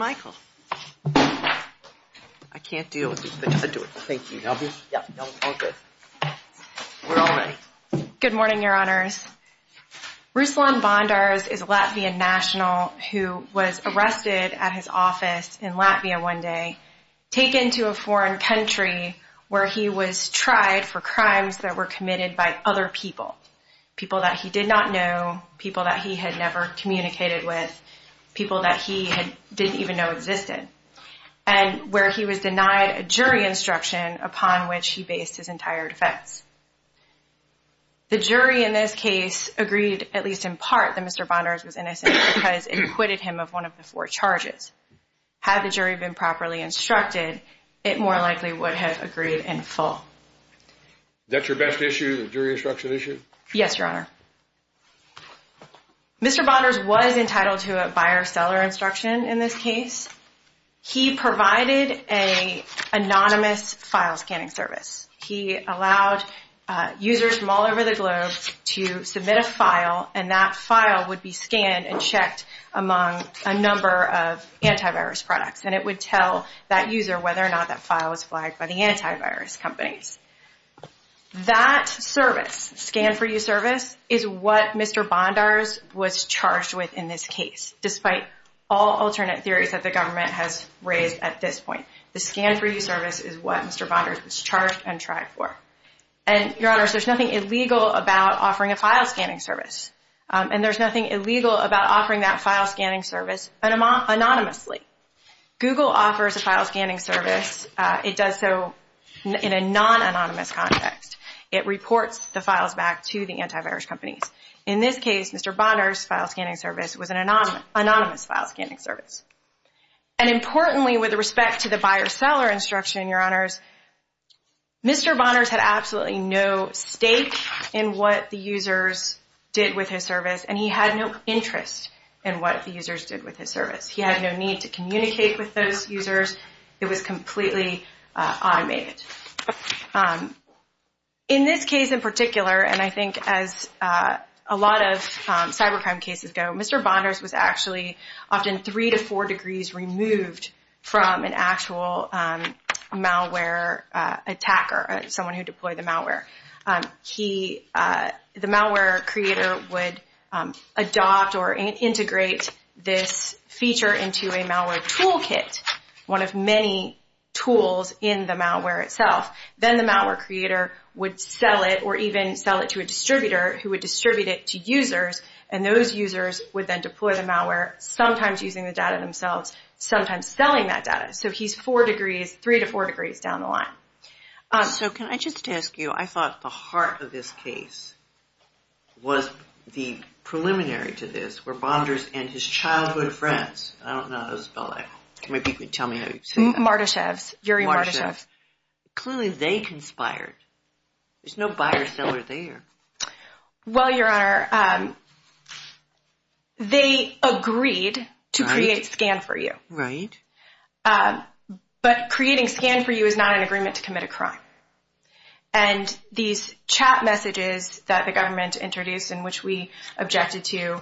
I can't deal with this. Thank you. Good morning, Your Honors. Ruslan Bondars is a Latvian national who was arrested at his office in Latvia one day, taken to a foreign country where he was tried for crimes that were committed by other people. People that he did not know, people that he had never communicated with, people that he didn't even know existed. And where he was denied a jury instruction upon which he based his entire defense. The jury in this case agreed, at least in part, that Mr. Bondars was innocent because it acquitted him of one of the four charges. Had the jury been properly instructed, it more likely would have agreed in full. Is that your best issue, the jury instruction issue? Yes, Your Honor. Mr. Bondars was entitled to a buyer-seller instruction in this case. He provided an anonymous file scanning service. He allowed users from all over the globe to submit a file, and that file would be scanned and checked among a number of antivirus products. And it would tell that user whether or not that file was flagged by the antivirus companies. That service, the scan-for-you service, is what Mr. Bondars was charged with in this case, despite all alternate theories that the government has raised at this point. The scan-for-you service is what Mr. Bondars was charged and tried for. And, Your Honor, there's nothing illegal about offering a file scanning service. And there's nothing illegal about offering that file scanning service anonymously. Google offers a file scanning service. It does so in a non-anonymous context. It reports the files back to the antivirus companies. In this case, Mr. Bondars' file scanning service was an anonymous file scanning service. And, importantly, with respect to the buyer-seller instruction, Your Honors, Mr. Bondars had absolutely no stake in what the users did with his service, and he had no interest in what the users did with his service. He had no need to communicate with those users. It was completely automated. In this case in particular, and I think as a lot of cybercrime cases go, Mr. Bondars was actually often three to four degrees removed from an actual malware attacker, someone who deployed the malware. The malware creator would adopt or integrate this feature into a malware toolkit, one of many tools in the malware itself. Then the malware creator would sell it or even sell it to a distributor who would distribute it to users, and those users would then deploy the malware, sometimes using the data themselves, sometimes selling that data. So he's four degrees, three to four degrees down the line. So can I just ask you, I thought the heart of this case was the preliminary to this, where Bondars and his childhood friends, I don't know how to spell that. Can you tell me how you say that? Mardashevs, Yuri Mardashevs. Clearly they conspired. There's no buyer-seller there. Well, Your Honor, they agreed to create Scan4U. Right. But creating Scan4U is not an agreement to commit a crime. And these chat messages that the government introduced, in which we objected to,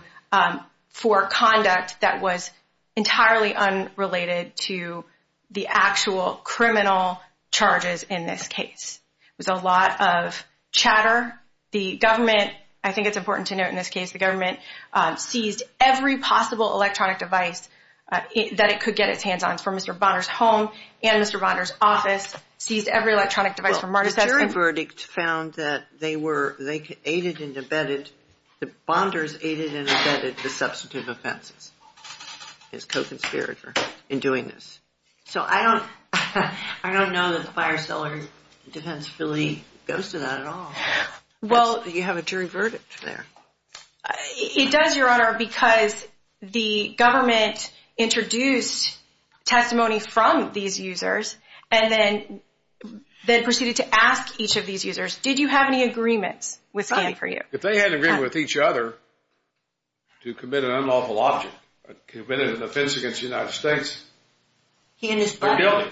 for conduct that was entirely unrelated to the actual criminal charges in this case, was a lot of chatter. The government, I think it's important to note in this case, the government seized every possible electronic device that it could get its hands on, from Mr. Bondar's home and Mr. Bondar's office, seized every electronic device from Mardashevs. The verdict found that they were, they aided and abetted, the Bondars aided and abetted the substantive offenses. His co-conspirator in doing this. So I don't know that the buyer-seller defensibility goes to that at all. You have a jury verdict there. It does, Your Honor, because the government introduced testimony from these users and then proceeded to ask each of these users, did you have any agreements with Scan4U? If they had an agreement with each other to commit an unlawful object, committed an offense against the United States, they're guilty.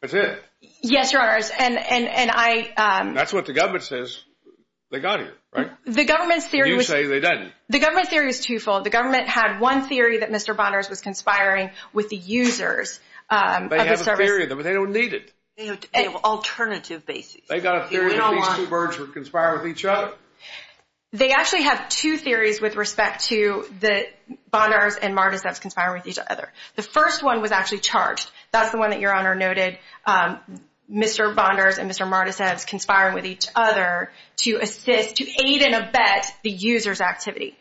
That's it. Yes, Your Honor, and I... That's what the government says they got here, right? The government's theory was... You say they didn't. The government's theory was twofold. The government had one theory that Mr. Bondar's was conspiring with the users of the service. They have a theory, but they don't need it. They have an alternative basis. They got a theory that these two birds were conspiring with each other? They actually have two theories with respect to the Bondar's and Mardisev's conspiring with each other. The first one was actually charged. That's the one that Your Honor noted, Mr. Bondar's and Mr. Mardisev's conspiring with each other to assist, to aid and abet the user's activity.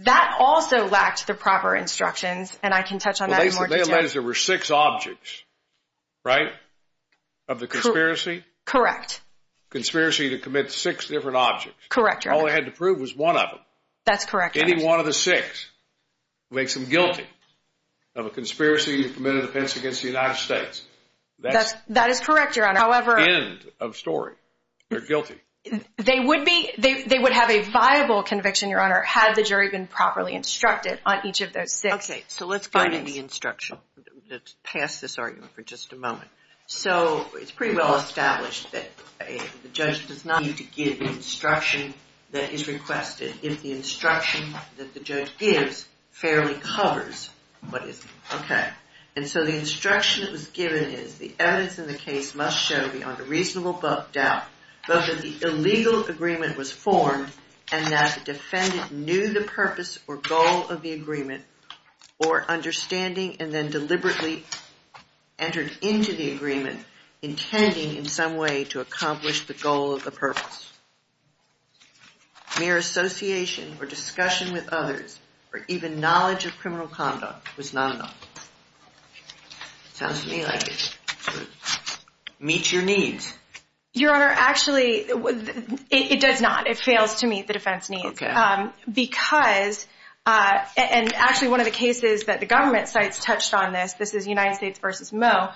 That also lacked the proper instructions, and I can touch on that in more detail. Well, they alleged there were six objects, right, of the conspiracy? Correct. Conspiracy to commit six different objects. Correct, Your Honor. All they had to prove was one of them. That's correct, Your Honor. Any one of the six makes them guilty of a conspiracy committed against the United States. That is correct, Your Honor. However... End of story. They're guilty. They would be. They would have a viable conviction, Your Honor, had the jury been properly instructed on each of those six. Okay, so let's go into the instruction. Let's pass this argument for just a moment. So it's pretty well established that the judge does not need to give instruction that is requested if the instruction that the judge gives fairly covers what is... Okay, and so the instruction that was given is, the evidence in the case must show beyond a reasonable doubt both that the illegal agreement was formed and that the defendant knew the purpose or goal of the agreement or understanding and then deliberately entered into the agreement intending in some way to accomplish the goal of the purpose. Mere association or discussion with others or even knowledge of criminal conduct was not enough. Sounds to me like it meets your needs. Your Honor, actually, it does not. It fails to meet the defense needs. Okay. Because, and actually one of the cases that the government sites touched on this, this is United States v. Moe,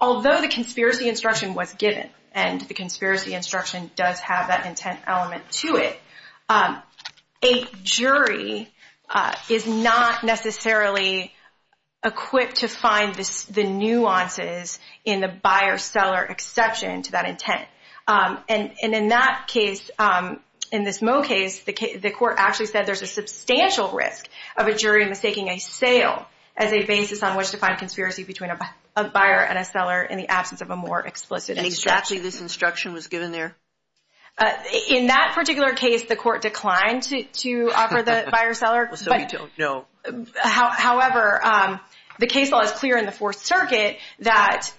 although the conspiracy instruction was given and the conspiracy instruction does have that intent element to it, a jury is not necessarily equipped to find the nuances in the buyer-seller exception to that intent. And in that case, in this Moe case, the court actually said there's a substantial risk of a jury mistaking a sale as a basis on which to find conspiracy between a buyer and a seller in the absence of a more explicit instruction. Actually, this instruction was given there? In that particular case, the court declined to offer the buyer-seller. So we don't know. However, the case law is clear in the Fourth Circuit that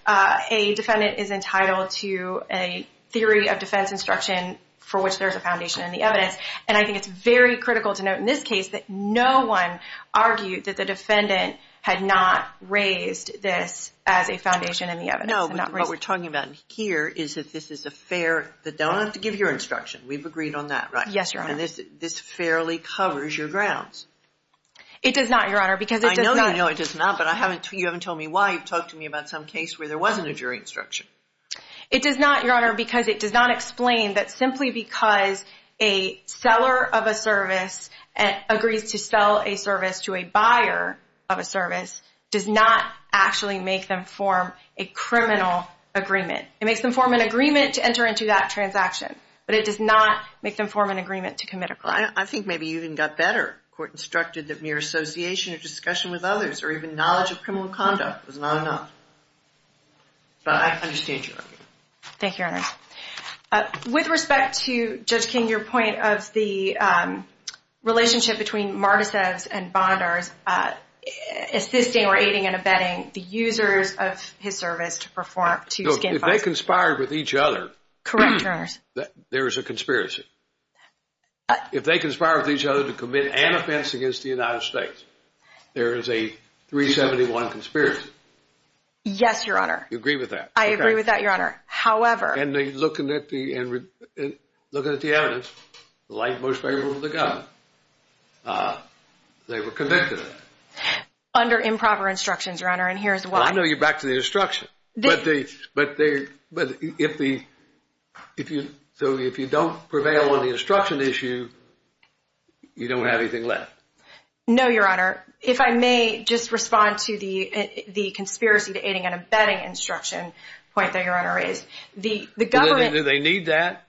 a defendant is entitled to a theory of defense instruction for which there's a foundation in the evidence. And I think it's very critical to note in this case that no one argued that the defendant had not raised this as a foundation in the evidence. No, what we're talking about here is that this is a fair, that they don't have to give your instruction. We've agreed on that, right? Yes, Your Honor. And this fairly covers your grounds. It does not, Your Honor, because it does not. I know you know it does not, but you haven't told me why. You've talked to me about some case where there wasn't a jury instruction. It does not, Your Honor, because it does not explain that simply because a seller of a service agrees to sell a service to a buyer of a service does not actually make them form a criminal agreement. It makes them form an agreement to enter into that transaction, but it does not make them form an agreement to commit a crime. Well, I think maybe you even got better. Court instructed that mere association or discussion with others or even knowledge of criminal conduct was not enough. But I understand your argument. Thank you, Your Honor. With respect to, Judge King, your point of the relationship between Mardisevs and Bondars, assisting or aiding and abetting the users of his service to perform two skin fights. If they conspired with each other, there is a conspiracy. If they conspired with each other to commit an offense against the United States, there is a 371 conspiracy. Yes, Your Honor. You agree with that? I agree with that, Your Honor. However. And looking at the evidence, like most favorable to the government, they were convicted of it. Under improper instructions, Your Honor, and here's why. Well, I know you're back to the instruction, but if you don't prevail on the instruction issue, you don't have anything left. No, Your Honor. If I may just respond to the conspiracy to aiding and abetting instruction point that Your Honor raised. Do they need that?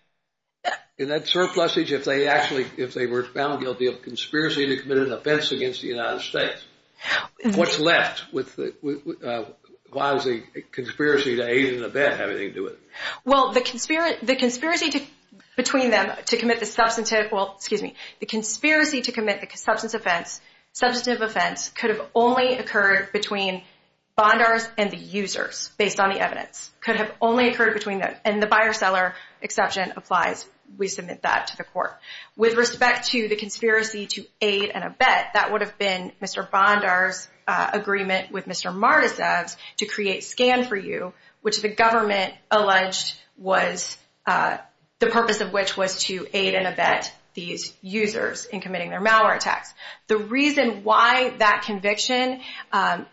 In that surplus age, if they were found guilty of conspiracy to commit an offense against the United States, what's left? Why is the conspiracy to aid and abet having anything to do with it? Well, the conspiracy between them to commit the substantive, well, excuse me, the conspiracy to commit the substantive offense could have only occurred between Bondars and the users based on the evidence. And the buyer-seller exception applies. We submit that to the court. With respect to the conspiracy to aid and abet, that would have been Mr. Bondar's agreement with Mr. Mardisavs to create SCAN4U, which the government alleged was the purpose of which was to aid and abet these users in committing their malware attacks. The reason why that conviction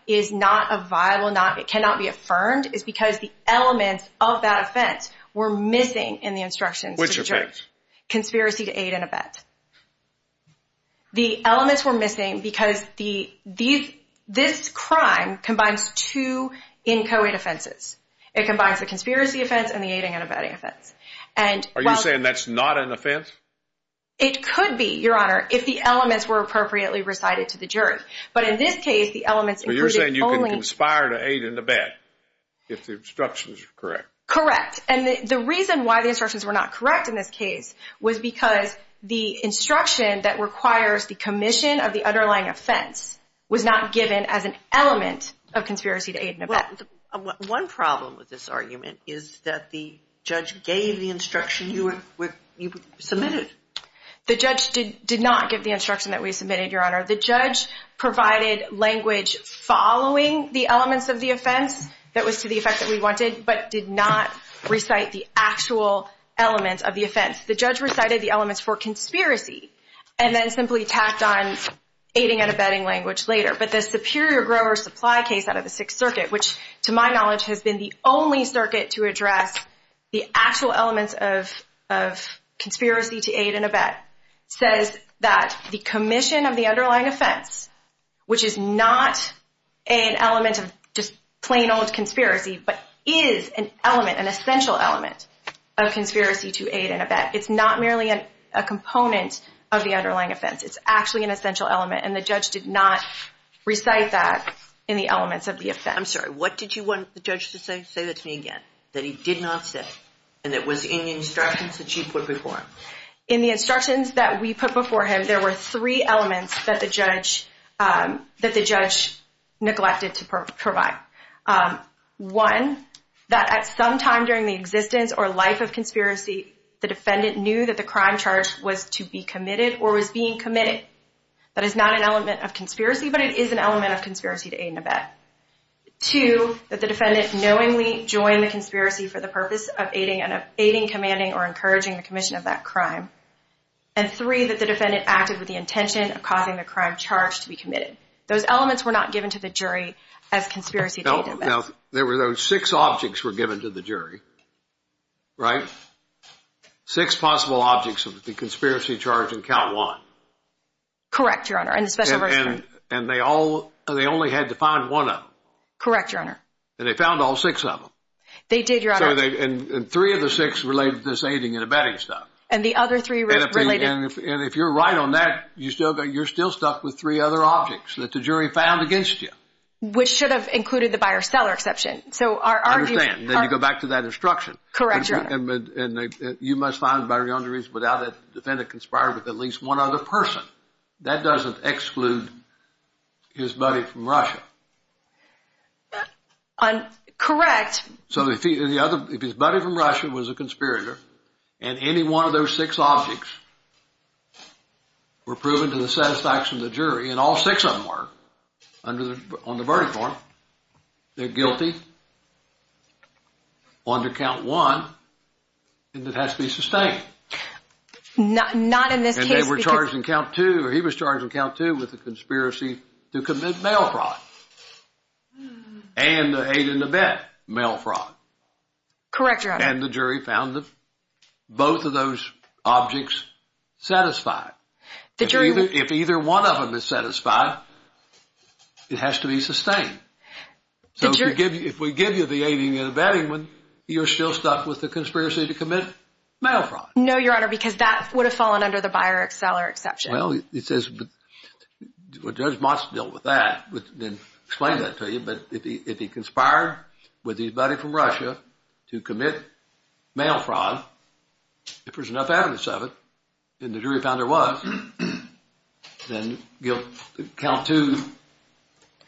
is not a viable, it cannot be affirmed is because the elements of that offense were missing in the instructions. Which offense? Conspiracy to aid and abet. The elements were missing because this crime combines two inchoate offenses. It combines the conspiracy offense and the aiding and abetting offense. Are you saying that's not an offense? It could be, Your Honor, if the elements were appropriately recited to the jury. But in this case, the elements included only... So you're saying you can conspire to aid and abet if the instructions are correct? Correct. And the reason why the instructions were not correct in this case was because the instruction that requires the commission of the underlying offense was not given as an element of conspiracy to aid and abet. One problem with this argument is that the judge gave the instruction you submitted. The judge did not give the instruction that we submitted, Your Honor. The judge provided language following the elements of the offense that was to the effect that we wanted, but did not recite the actual elements of the offense. The judge recited the elements for conspiracy and then simply tacked on aiding and abetting language later. But the Superior Grower Supply case out of the Sixth Circuit, which to my knowledge has been the only circuit to address the actual elements of conspiracy to aid and abet, says that the commission of the underlying offense, which is not an element of just plain old conspiracy, but is an element, an essential element, of conspiracy to aid and abet. It's not merely a component of the underlying offense. It's actually an essential element, and the judge did not recite that in the elements of the offense. I'm sorry. What did you want the judge to say? Say that to me again, that he did not say, and it was in the instructions that you put before him. In the instructions that we put before him, there were three elements that the judge neglected to provide. One, that at some time during the existence or life of conspiracy, the defendant knew that the crime charge was to be committed or was being committed. That is not an element of conspiracy, but it is an element of conspiracy to aid and abet. Two, that the defendant knowingly joined the conspiracy for the purpose of aiding and abetting, commanding, or encouraging the commission of that crime. And three, that the defendant acted with the intention of causing the crime charge to be committed. Those elements were not given to the jury as conspiracy to aid and abet. Now, there were those six objects were given to the jury, right? Six possible objects of the conspiracy charge in count one. Correct, Your Honor, in the special version. And they only had to find one of them. Correct, Your Honor. And they found all six of them. They did, Your Honor. And three of the six related to this aiding and abetting stuff. And the other three related. And if you're right on that, you're still stuck with three other objects that the jury found against you. Which should have included the buyer-seller exception. So our argument. I understand. Then you go back to that instruction. Correct, Your Honor. And you must find the buyer-seller without that the defendant conspired with at least one other person. That doesn't exclude his buddy from Russia. Correct. So if his buddy from Russia was a conspirator, and any one of those six objects were proven to the satisfaction of the jury, and all six of them were on the verdict form, they're guilty under count one, and it has to be sustained. Not in this case. And they were charged in count two, or he was charged in count two with the conspiracy to commit mail fraud. And the aid and abet mail fraud. Correct, Your Honor. And the jury found both of those objects satisfied. If either one of them is satisfied, it has to be sustained. So if we give you the aid and abetting one, you're still stuck with the conspiracy to commit mail fraud. No, Your Honor, because that would have fallen under the buyer-seller exception. Well, Judge Motz dealt with that and explained that to you, but if he conspired with his buddy from Russia to commit mail fraud, if there's enough evidence of it, and the jury found there was, then count two,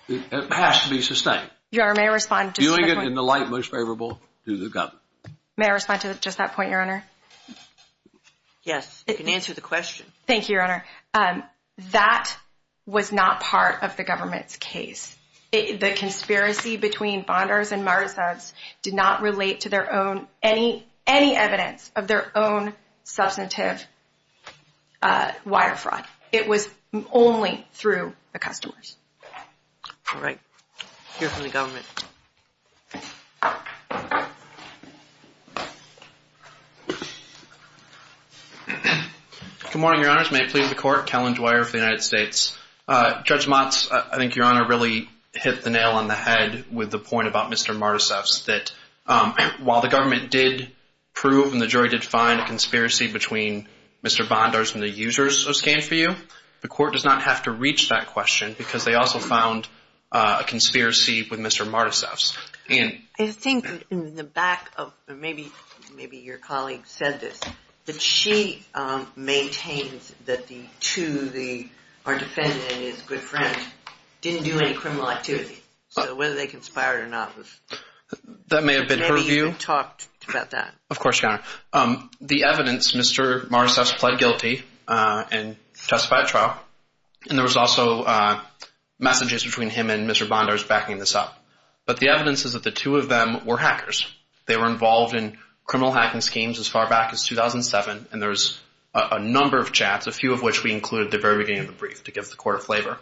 it has to be sustained. Your Honor, may I respond? Viewing it in the light most favorable to the government. May I respond to just that point, Your Honor? Yes, you can answer the question. Thank you, Your Honor. That was not part of the government's case. The conspiracy between Bondars and Martisads did not relate to any evidence of their own substantive wire fraud. It was only through the customers. All right. Hear from the government. Good morning, Your Honors. May it please the Court. Kellen Dwyer for the United States. Judge Motz, I think Your Honor really hit the nail on the head with the point about Mr. Martisads, that while the government did prove and the jury did find a conspiracy between Mr. Bondars and the users of Scan4U, the Court does not have to reach that question because they also found a conspiracy with Mr. Martisads. I think in the back of, maybe your colleague said this, that she maintains that the two, our defendant and his good friend, didn't do any criminal activity. So whether they conspired or not was... That may have been her view. Maybe you talked about that. Of course, Your Honor. The evidence, Mr. Martisads pled guilty and testified at trial, and there was also messages between him and Mr. Bondars backing this up. But the evidence is that the two of them were hackers. They were involved in criminal hacking schemes as far back as 2007, and there's a number of chats, a few of which we included at the very beginning of the brief to give the Court a flavor.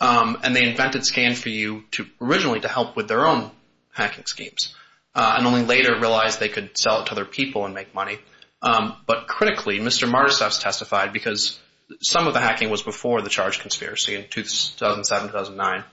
And they invented Scan4U originally to help with their own hacking schemes and only later realized they could sell it to other people and make money. But critically, Mr. Martisads testified because some of the hacking was before the charge conspiracy in 2007, 2009.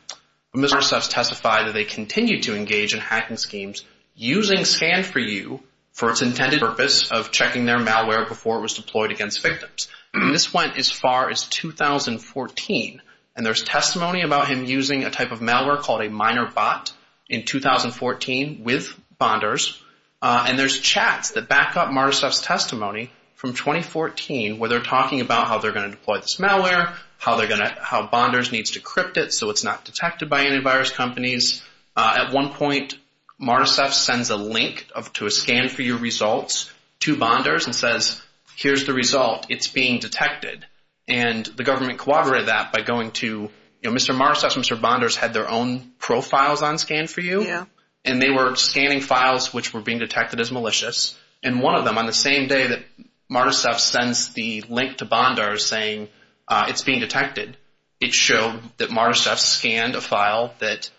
Mr. Martisads testified that they continued to engage in hacking schemes using Scan4U for its intended purpose of checking their malware before it was deployed against victims. And this went as far as 2014. And there's testimony about him using a type of malware called a minor bot in 2014 with Bondars, and there's chats that back up Martisads' testimony from 2014 where they're talking about how they're going to deploy this malware, how Bondars needs to encrypt it so it's not detected by antivirus companies. At one point, Martisads sends a link to a Scan4U results to Bondars and says, here's the result, it's being detected. And the government corroborated that by going to, you know, Mr. Martisads and Mr. Bondars had their own profiles on Scan4U, and they were scanning files which were being detected as malicious. And one of them, on the same day that Martisads sends the link to Bondars saying it's being detected, it showed that Martisads scanned a file that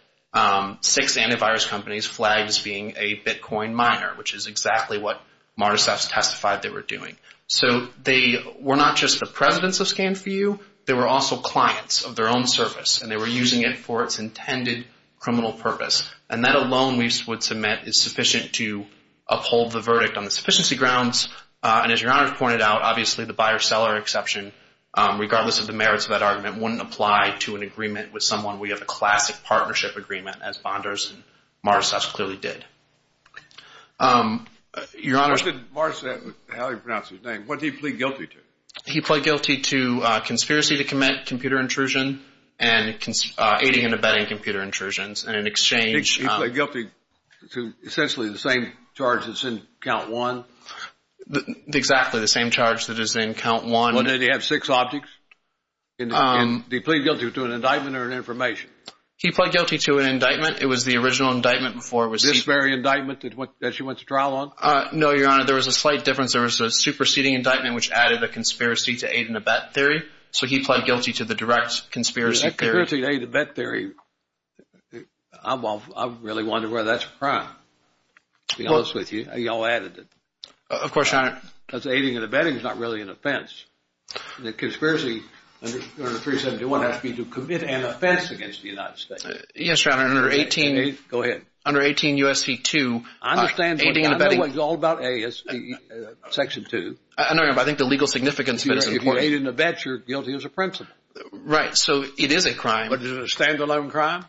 six antivirus companies flagged as being a Bitcoin miner, which is exactly what Martisads testified they were doing. So they were not just the presidents of Scan4U, they were also clients of their own service, and they were using it for its intended criminal purpose. And that alone, we would submit, is sufficient to uphold the verdict on the sufficiency grounds. And as Your Honor has pointed out, obviously the buyer-seller exception, regardless of the merits of that argument, wouldn't apply to an agreement with someone. We have a classic partnership agreement, as Bondars and Martisads clearly did. Your Honor. What did Martisads, how did he pronounce his name, what did he plead guilty to? He pleaded guilty to conspiracy to commit computer intrusion and aiding and abetting computer intrusions. And in exchange… He pleaded guilty to essentially the same charge that's in count one? Exactly, the same charge that is in count one. Well, did he have six objects? Did he plead guilty to an indictment or an information? He pleaded guilty to an indictment. It was the original indictment before it was… This very indictment that she went to trial on? No, Your Honor. There was a slight difference. There was a superseding indictment, which added a conspiracy to aid and abet theory. So he pled guilty to the direct conspiracy theory. Conspiracy to aid and abet theory, I really wonder whether that's a crime, to be honest with you. You all added it. Of course, Your Honor. Because aiding and abetting is not really an offense. The conspiracy under 371 has to be to commit an offense against the United States. Yes, Your Honor. Under 18… Go ahead. Under 18 U.S.C. 2… I understand what you're talking about. Aiding and abetting… It's all about section two. I think the legal significance of it is important. If you aid and abet, you're guilty as a principal. Right. So it is a crime. But is it a stand-alone crime?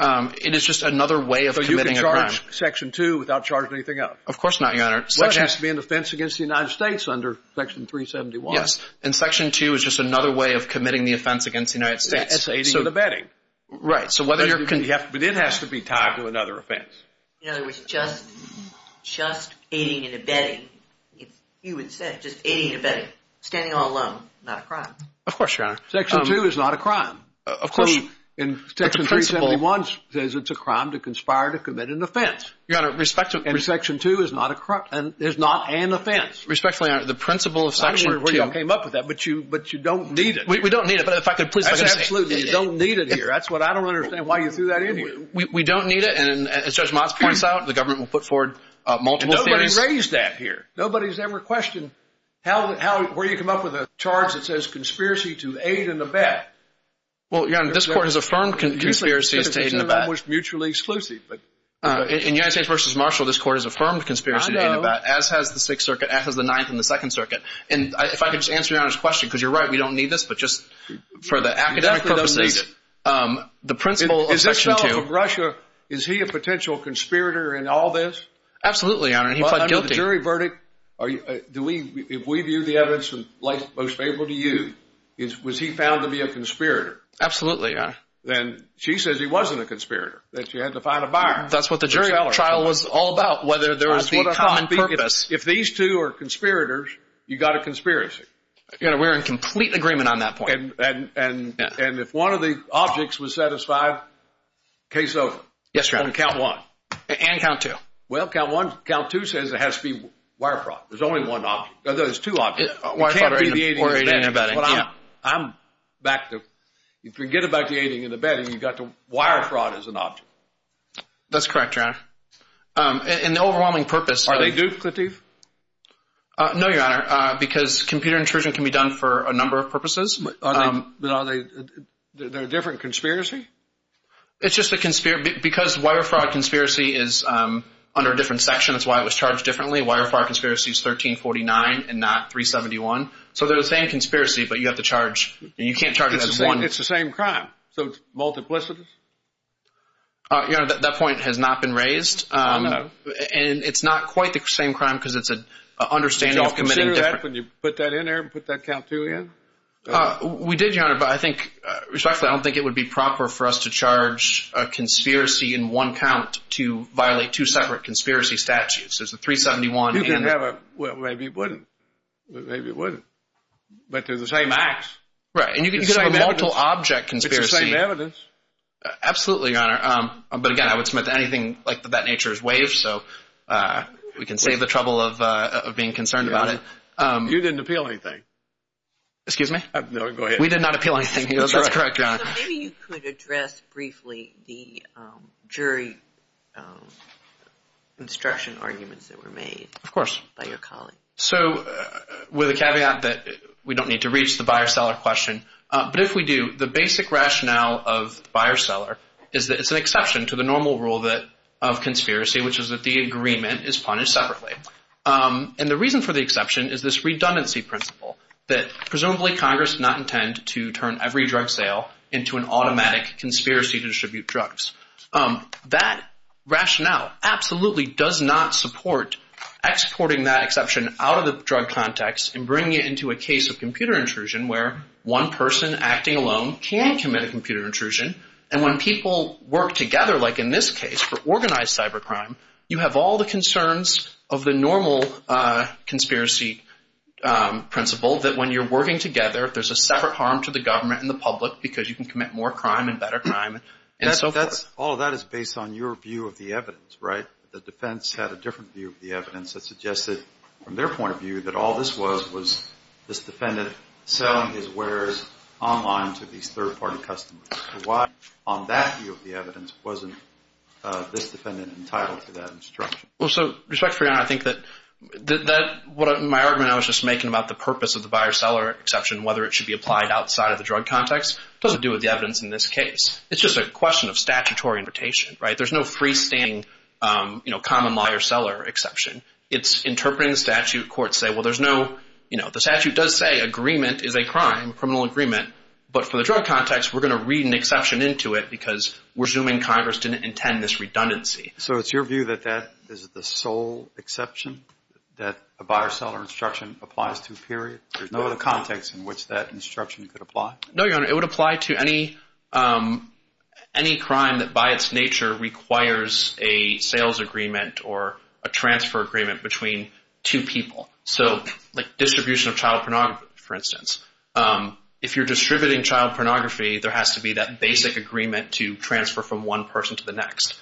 It is just another way of committing a crime. So you can charge section two without charging anything else? Of course not, Your Honor. Section… That has to be an offense against the United States under section 371. Yes. And section two is just another way of committing the offense against the United States. That's aiding and abetting. Right. So whether you're… It has to be tied to another offense. In other words, just aiding and abetting. You would say just aiding and abetting. Standing all alone. Not a crime. Of course, Your Honor. Section two is not a crime. Of course. And section 371 says it's a crime to conspire to commit an offense. Your Honor, respect to… And section two is not an offense. Respectfully, Your Honor, the principle of section two… I don't know where you all came up with that, but you don't need it. We don't need it, but if I could please… That's absolutely it. You don't need it here. That's what I don't understand why you threw that in here. We don't need it. And as Judge Motz points out, the government will put forward multiple theories. Nobody raised that here. Nobody's ever questioned where you come up with a charge that says conspiracy to aid and abet. Well, Your Honor, this court has affirmed conspiracy to aid and abet. It was mutually exclusive, but… In United States v. Marshall, this court has affirmed conspiracy to aid and abet. I know. As has the Sixth Circuit. As has the Ninth and the Second Circuit. And if I could just answer Your Honor's question, because you're right, we don't need this, but just for the academic purposes… You definitely don't need it. The principle of section two… Is this fellow from Russia, is he a potential conspirator in all this? Absolutely, Your Honor. Well, under the jury verdict, if we view the evidence in light most favorable to you, was he found to be a conspirator? Absolutely, Your Honor. Then she says he wasn't a conspirator, that she had to find a buyer. That's what the jury trial was all about, whether there was a common purpose. If these two are conspirators, you've got a conspiracy. We're in complete agreement on that point. And if one of the objects was set aside, case over. Yes, Your Honor. On count one. And count two. Well, count two says it has to be wire fraud. There's only one object. There's two objects. It can't be the aiding and abetting. I'm back to… You forget about the aiding and abetting, you've got the wire fraud as an object. That's correct, Your Honor. And the overwhelming purpose… Are they duplicated? No, Your Honor, because computer intrusion can be done for a number of purposes. But are they… They're a different conspiracy? It's just a conspiracy. Because wire fraud conspiracy is under a different section, that's why it was charged differently. Wire fraud conspiracy is 1349 and not 371. So they're the same conspiracy, but you have to charge. You can't charge it as one. It's the same crime. So it's multiplicitous? Your Honor, that point has not been raised. Oh, no. And it's not quite the same crime because it's an understanding of committing different… Did you consider that when you put that in there and put that count two in? We did, Your Honor, but I think… Respectfully, I don't think it would be proper for us to charge a conspiracy in one count to violate two separate conspiracy statutes. There's the 371 and… You could have a… Well, maybe you wouldn't. Maybe you wouldn't. But they're the same acts. Right. And you could have a multiple object conspiracy. It's the same evidence. Absolutely, Your Honor. But again, I would submit to anything like that nature is waived, so we can save the trouble of being concerned about it. You didn't appeal anything? Excuse me? No, go ahead. We did not appeal anything. That's correct, Your Honor. So maybe you could address briefly the jury instruction arguments that were made… Of course. …by your colleague. So with a caveat that we don't need to reach the buyer-seller question, but if we do, the basic rationale of buyer-seller is that it's an exception to the normal rule of conspiracy, which is that the agreement is punished separately. And the reason for the exception is this redundancy principle, that presumably Congress did not intend to turn every drug sale into an automatic conspiracy to distribute drugs. That rationale absolutely does not support exporting that exception out of the drug context and bringing it into a case of computer intrusion where one person acting alone can commit a computer intrusion. And when people work together, like in this case, for organized cybercrime, you have all the concerns of the normal conspiracy principle that when you're working together, there's a separate harm to the government and the public because you can commit more crime and better crime and so forth. All of that is based on your view of the evidence, right? The defense had a different view of the evidence that suggested, from their point of view, that all this was was this defendant selling his wares online to these third-party customers. Why, on that view of the evidence, wasn't this defendant entitled to that instruction? Well, so respect for your honor, I think that what my argument I was just making about the purpose of the buyer-seller exception, whether it should be applied outside of the drug context, doesn't do with the evidence in this case. It's just a question of statutory invitation, right? There's no freestanding, you know, common law buyer-seller exception. It's interpreting the statute. Courts say, well, there's no, you know, the statute does say agreement is a crime, criminal agreement. But for the drug context, we're going to read an exception into it because we're assuming Congress didn't intend this redundancy. So it's your view that that is the sole exception that a buyer-seller instruction applies to, period? There's no other context in which that instruction could apply? No, your honor. It would apply to any crime that by its nature requires a sales agreement or a transfer agreement between two people. So like distribution of child pornography, for instance. If you're distributing child pornography, there has to be that basic agreement to transfer from one person to the next.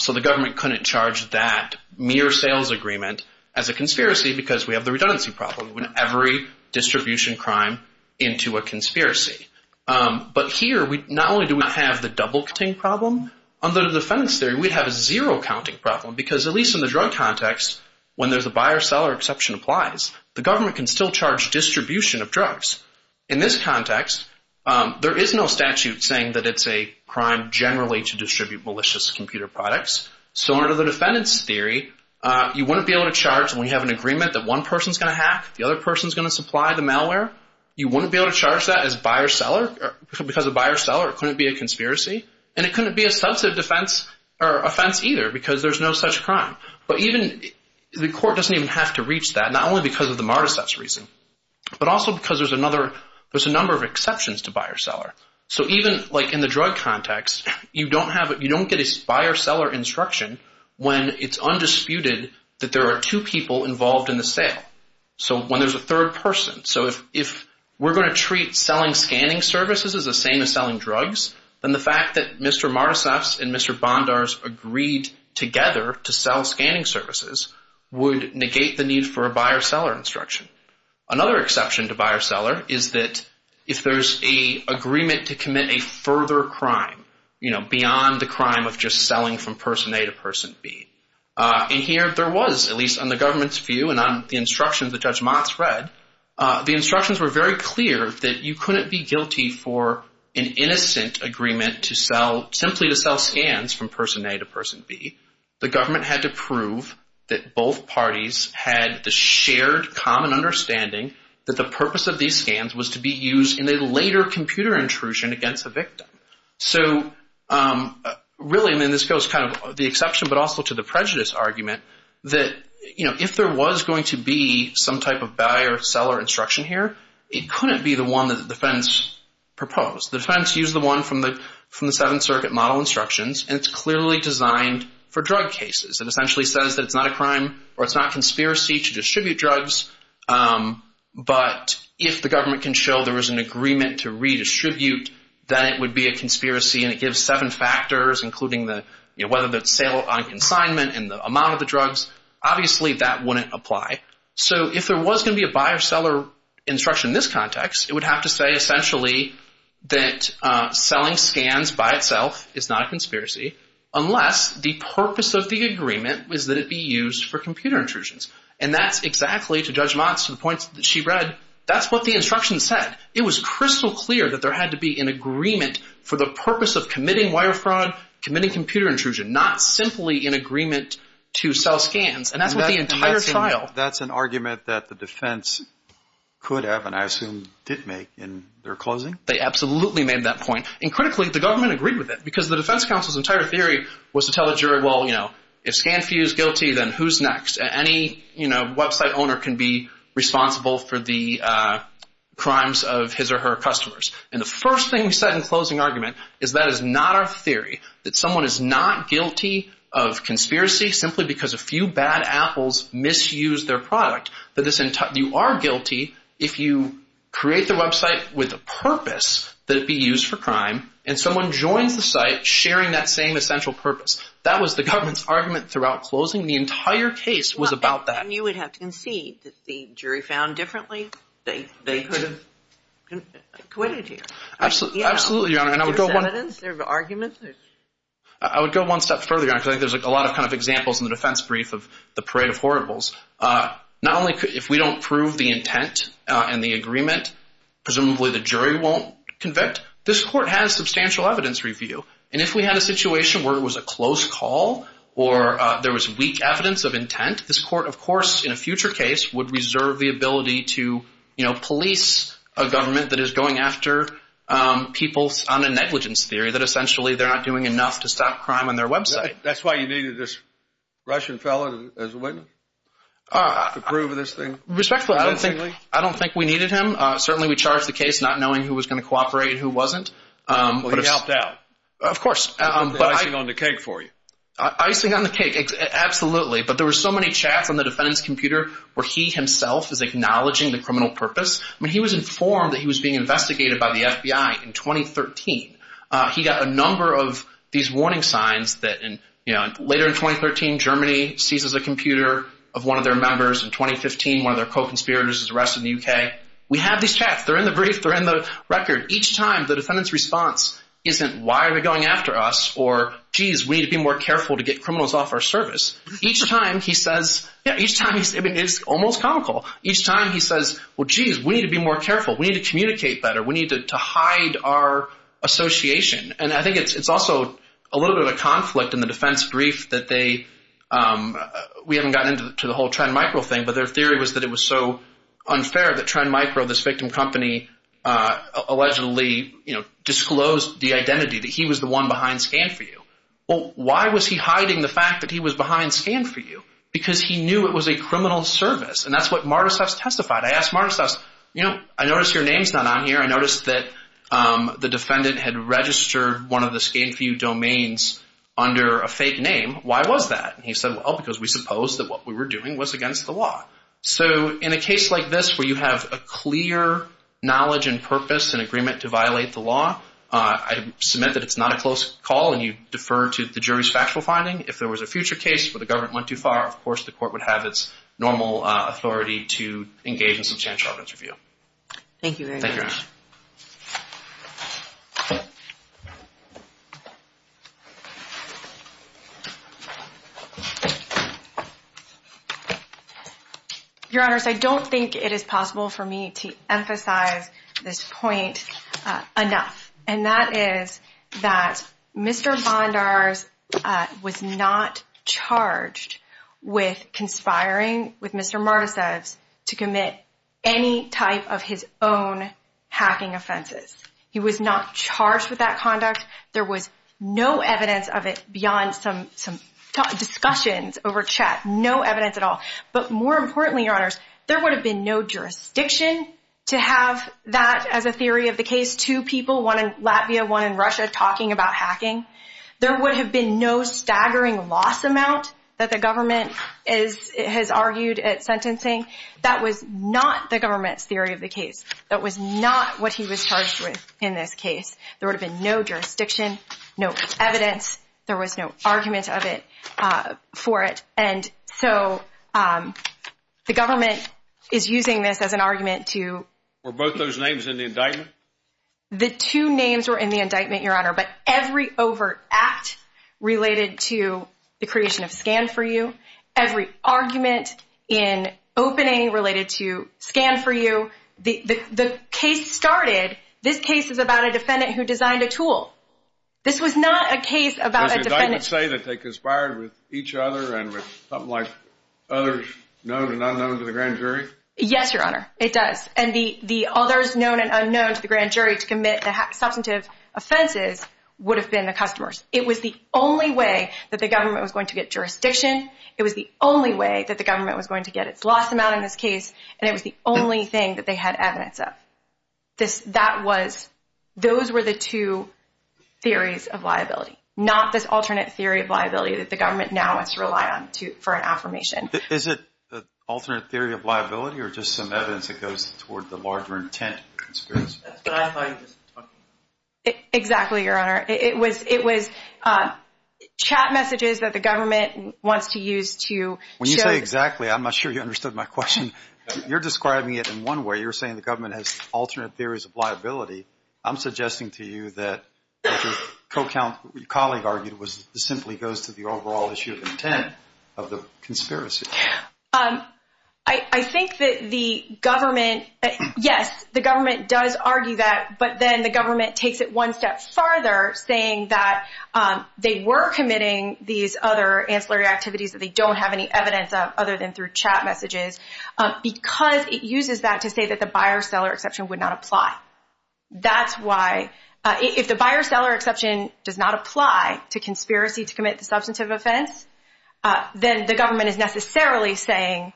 So the government couldn't charge that mere sales agreement as a conspiracy because we have the redundancy problem. We want every distribution crime into a conspiracy. But here, not only do we not have the double-counting problem, under the defendants' theory, we'd have a zero-counting problem. Because at least in the drug context, when there's a buyer-seller exception applies, the government can still charge distribution of drugs. In this context, there is no statute saying that it's a crime generally to distribute malicious computer products. So under the defendants' theory, you wouldn't be able to charge when you have an agreement that one person's going to hack, the other person's going to supply the malware. You wouldn't be able to charge that as buyer-seller because a buyer-seller couldn't be a conspiracy. And it couldn't be a substantive offense either because there's no such crime. But even the court doesn't even have to reach that, not only because of the Mardiseth's reason, but also because there's a number of exceptions to buyer-seller. So even like in the drug context, you don't get a buyer-seller instruction when it's undisputed that there are two people involved in the sale. So when there's a third person. So if we're going to treat selling scanning services as the same as selling drugs, then the fact that Mr. Mardiseth's and Mr. Bondar's agreed together to sell scanning services would negate the need for a buyer-seller instruction. Another exception to buyer-seller is that if there's an agreement to commit a further crime, you know, beyond the crime of just selling from person A to person B. And here there was, at least on the government's view and on the instructions that Judge Motz read, the instructions were very clear that you couldn't be guilty for an innocent agreement to sell, simply to sell scans from person A to person B. The government had to prove that both parties had the shared common understanding that the purpose of these scans was to be used in a later computer intrusion against the victim. So really, I mean, this goes kind of the exception but also to the prejudice argument that, you know, if there was going to be some type of buyer-seller instruction here, it couldn't be the one that the defense proposed. The defense used the one from the Seventh Circuit model instructions, and it's clearly designed for drug cases. It essentially says that it's not a crime or it's not conspiracy to distribute drugs, but if the government can show there is an agreement to redistribute, then it would be a conspiracy and it gives seven factors, including whether it's sale on consignment and the amount of the drugs. Obviously that wouldn't apply. So if there was going to be a buyer-seller instruction in this context, it would have to say essentially that selling scans by itself is not a conspiracy, unless the purpose of the agreement was that it be used for computer intrusions. And that's exactly, to Judge Motz, to the point that she read, that's what the instructions said. It was crystal clear that there had to be an agreement for the purpose of committing wire fraud, committing computer intrusion, not simply in agreement to sell scans. And that's what the entire trial. That's an argument that the defense could have, and I assume did make, in their closing? They absolutely made that point. And critically, the government agreed with it, because the defense counsel's entire theory was to tell the jury, well, you know, if ScanFu is guilty, then who's next? Any website owner can be responsible for the crimes of his or her customers. And the first thing we said in closing argument is that is not our theory, that someone is not guilty of conspiracy simply because a few bad apples misused their product. You are guilty if you create the website with a purpose that it be used for crime, and someone joins the site sharing that same essential purpose. That was the government's argument throughout closing. The entire case was about that. And you would have to concede that the jury found differently. They could have acquitted you. Absolutely, Your Honor, and I would go one step further, Your Honor, because I think there's a lot of kind of examples in the defense brief of the parade of horribles. Not only if we don't prove the intent and the agreement, presumably the jury won't convict, this court has substantial evidence review. And if we had a situation where it was a close call or there was weak evidence of intent, this court, of course, in a future case, would reserve the ability to, you know, police a government that is going after people on a negligence theory, that essentially they're not doing enough to stop crime on their website. That's why you needed this Russian fellow as a witness to prove this thing? Respectfully, I don't think we needed him. Certainly we charged the case not knowing who was going to cooperate and who wasn't. Well, he helped out. Of course. Icing on the cake for you. Icing on the cake. Absolutely. But there were so many chats on the defendant's computer where he himself is acknowledging the criminal purpose. I mean, he was informed that he was being investigated by the FBI in 2013. He got a number of these warning signs that, you know, later in 2013 Germany seizes a computer of one of their members. In 2015, one of their co-conspirators is arrested in the U.K. We have these chats. They're in the brief. They're in the record. Each time the defendant's response isn't, why are they going after us? Or, geez, we need to be more careful to get criminals off our service. Each time he says, yeah, each time he's almost comical. Each time he says, well, geez, we need to be more careful. We need to communicate better. We need to hide our association. And I think it's also a little bit of conflict in the defense brief that they, we haven't gotten into the whole Trend Micro thing, but their theory was that it was so unfair that Trend Micro, this victim company, allegedly, you know, disclosed the identity that he was the one behind Scan4U. Well, why was he hiding the fact that he was behind Scan4U? Because he knew it was a criminal service. And that's what Martiseffs testified. I asked Martiseffs, you know, I notice your name's not on here. I noticed that the defendant had registered one of the Scan4U domains under a fake name. Why was that? And he said, well, because we supposed that what we were doing was against the law. So in a case like this where you have a clear knowledge and purpose and agreement to violate the law, I submit that it's not a close call and you defer to the jury's factual finding. If there was a future case where the government went too far, of course the court would have its normal authority to engage in substantial evidence review. Thank you very much. Your Honors, I don't think it is possible for me to emphasize this point enough. And that is that Mr. Bondars was not charged with conspiring with Mr. Martiseffs to commit any type of his own hacking offenses. He was not charged with that conduct. There was no evidence of it beyond some discussions over chat. No evidence at all. But more importantly, Your Honors, there would have been no jurisdiction to have that as a theory of the case. Two people, one in Latvia, one in Russia, talking about hacking. There would have been no staggering loss amount that the government has argued at sentencing. That was not the government's theory of the case. That was not what he was charged with in this case. There would have been no jurisdiction, no evidence. There was no argument for it. And so the government is using this as an argument to… Were both those names in the indictment? The two names were in the indictment, Your Honor. But every overt act related to the creation of Scan4U, every argument in opening related to Scan4U, the case started, this case is about a defendant who designed a tool. This was not a case about a defendant… Does the indictment say that they conspired with each other and with something like others known and unknown to the grand jury? Yes, Your Honor, it does. And the others known and unknown to the grand jury to commit the substantive offenses would have been the customers. It was the only way that the government was going to get jurisdiction. It was the only way that the government was going to get its loss amount in this case. And it was the only thing that they had evidence of. Those were the two theories of liability, not this alternate theory of liability that the government now has to rely on for an affirmation. Is it the alternate theory of liability or just some evidence that goes toward the larger intent of the conspiracy? Exactly, Your Honor. It was chat messages that the government wants to use to show… When you say exactly, I'm not sure you understood my question. You're describing it in one way. You're saying the government has alternate theories of liability. I'm suggesting to you that what your colleague argued simply goes to the overall issue of intent of the conspiracy. I think that the government… Yes, the government does argue that, but then the government takes it one step farther, saying that they were committing these other ancillary activities that they don't have any evidence of other than through chat messages because it uses that to say that the buyer-seller exception would not apply. That's why, if the buyer-seller exception does not apply to conspiracy to commit the substantive offense, then the government is necessarily saying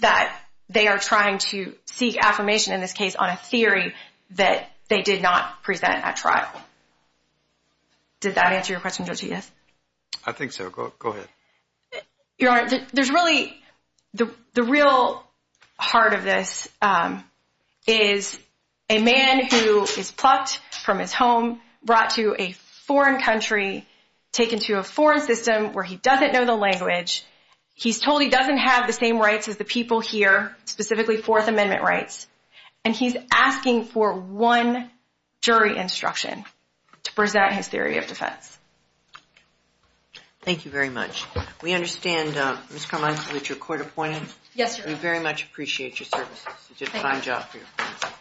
that they are trying to seek affirmation, in this case, on a theory that they did not present at trial. Did that answer your question, Judge, yes? I think so. Go ahead. Your Honor, there's really… The real heart of this is a man who is plucked from his home, brought to a foreign country, taken to a foreign system where he doesn't know the language. He's told he doesn't have the same rights as the people here, specifically Fourth Amendment rights, and he's asking for one jury instruction to present his theory of defense. Thank you very much. We understand, Ms. Carmichael, that you're court-appointed. Yes, Your Honor. We very much appreciate your services. Thank you. You did a fine job for your clients.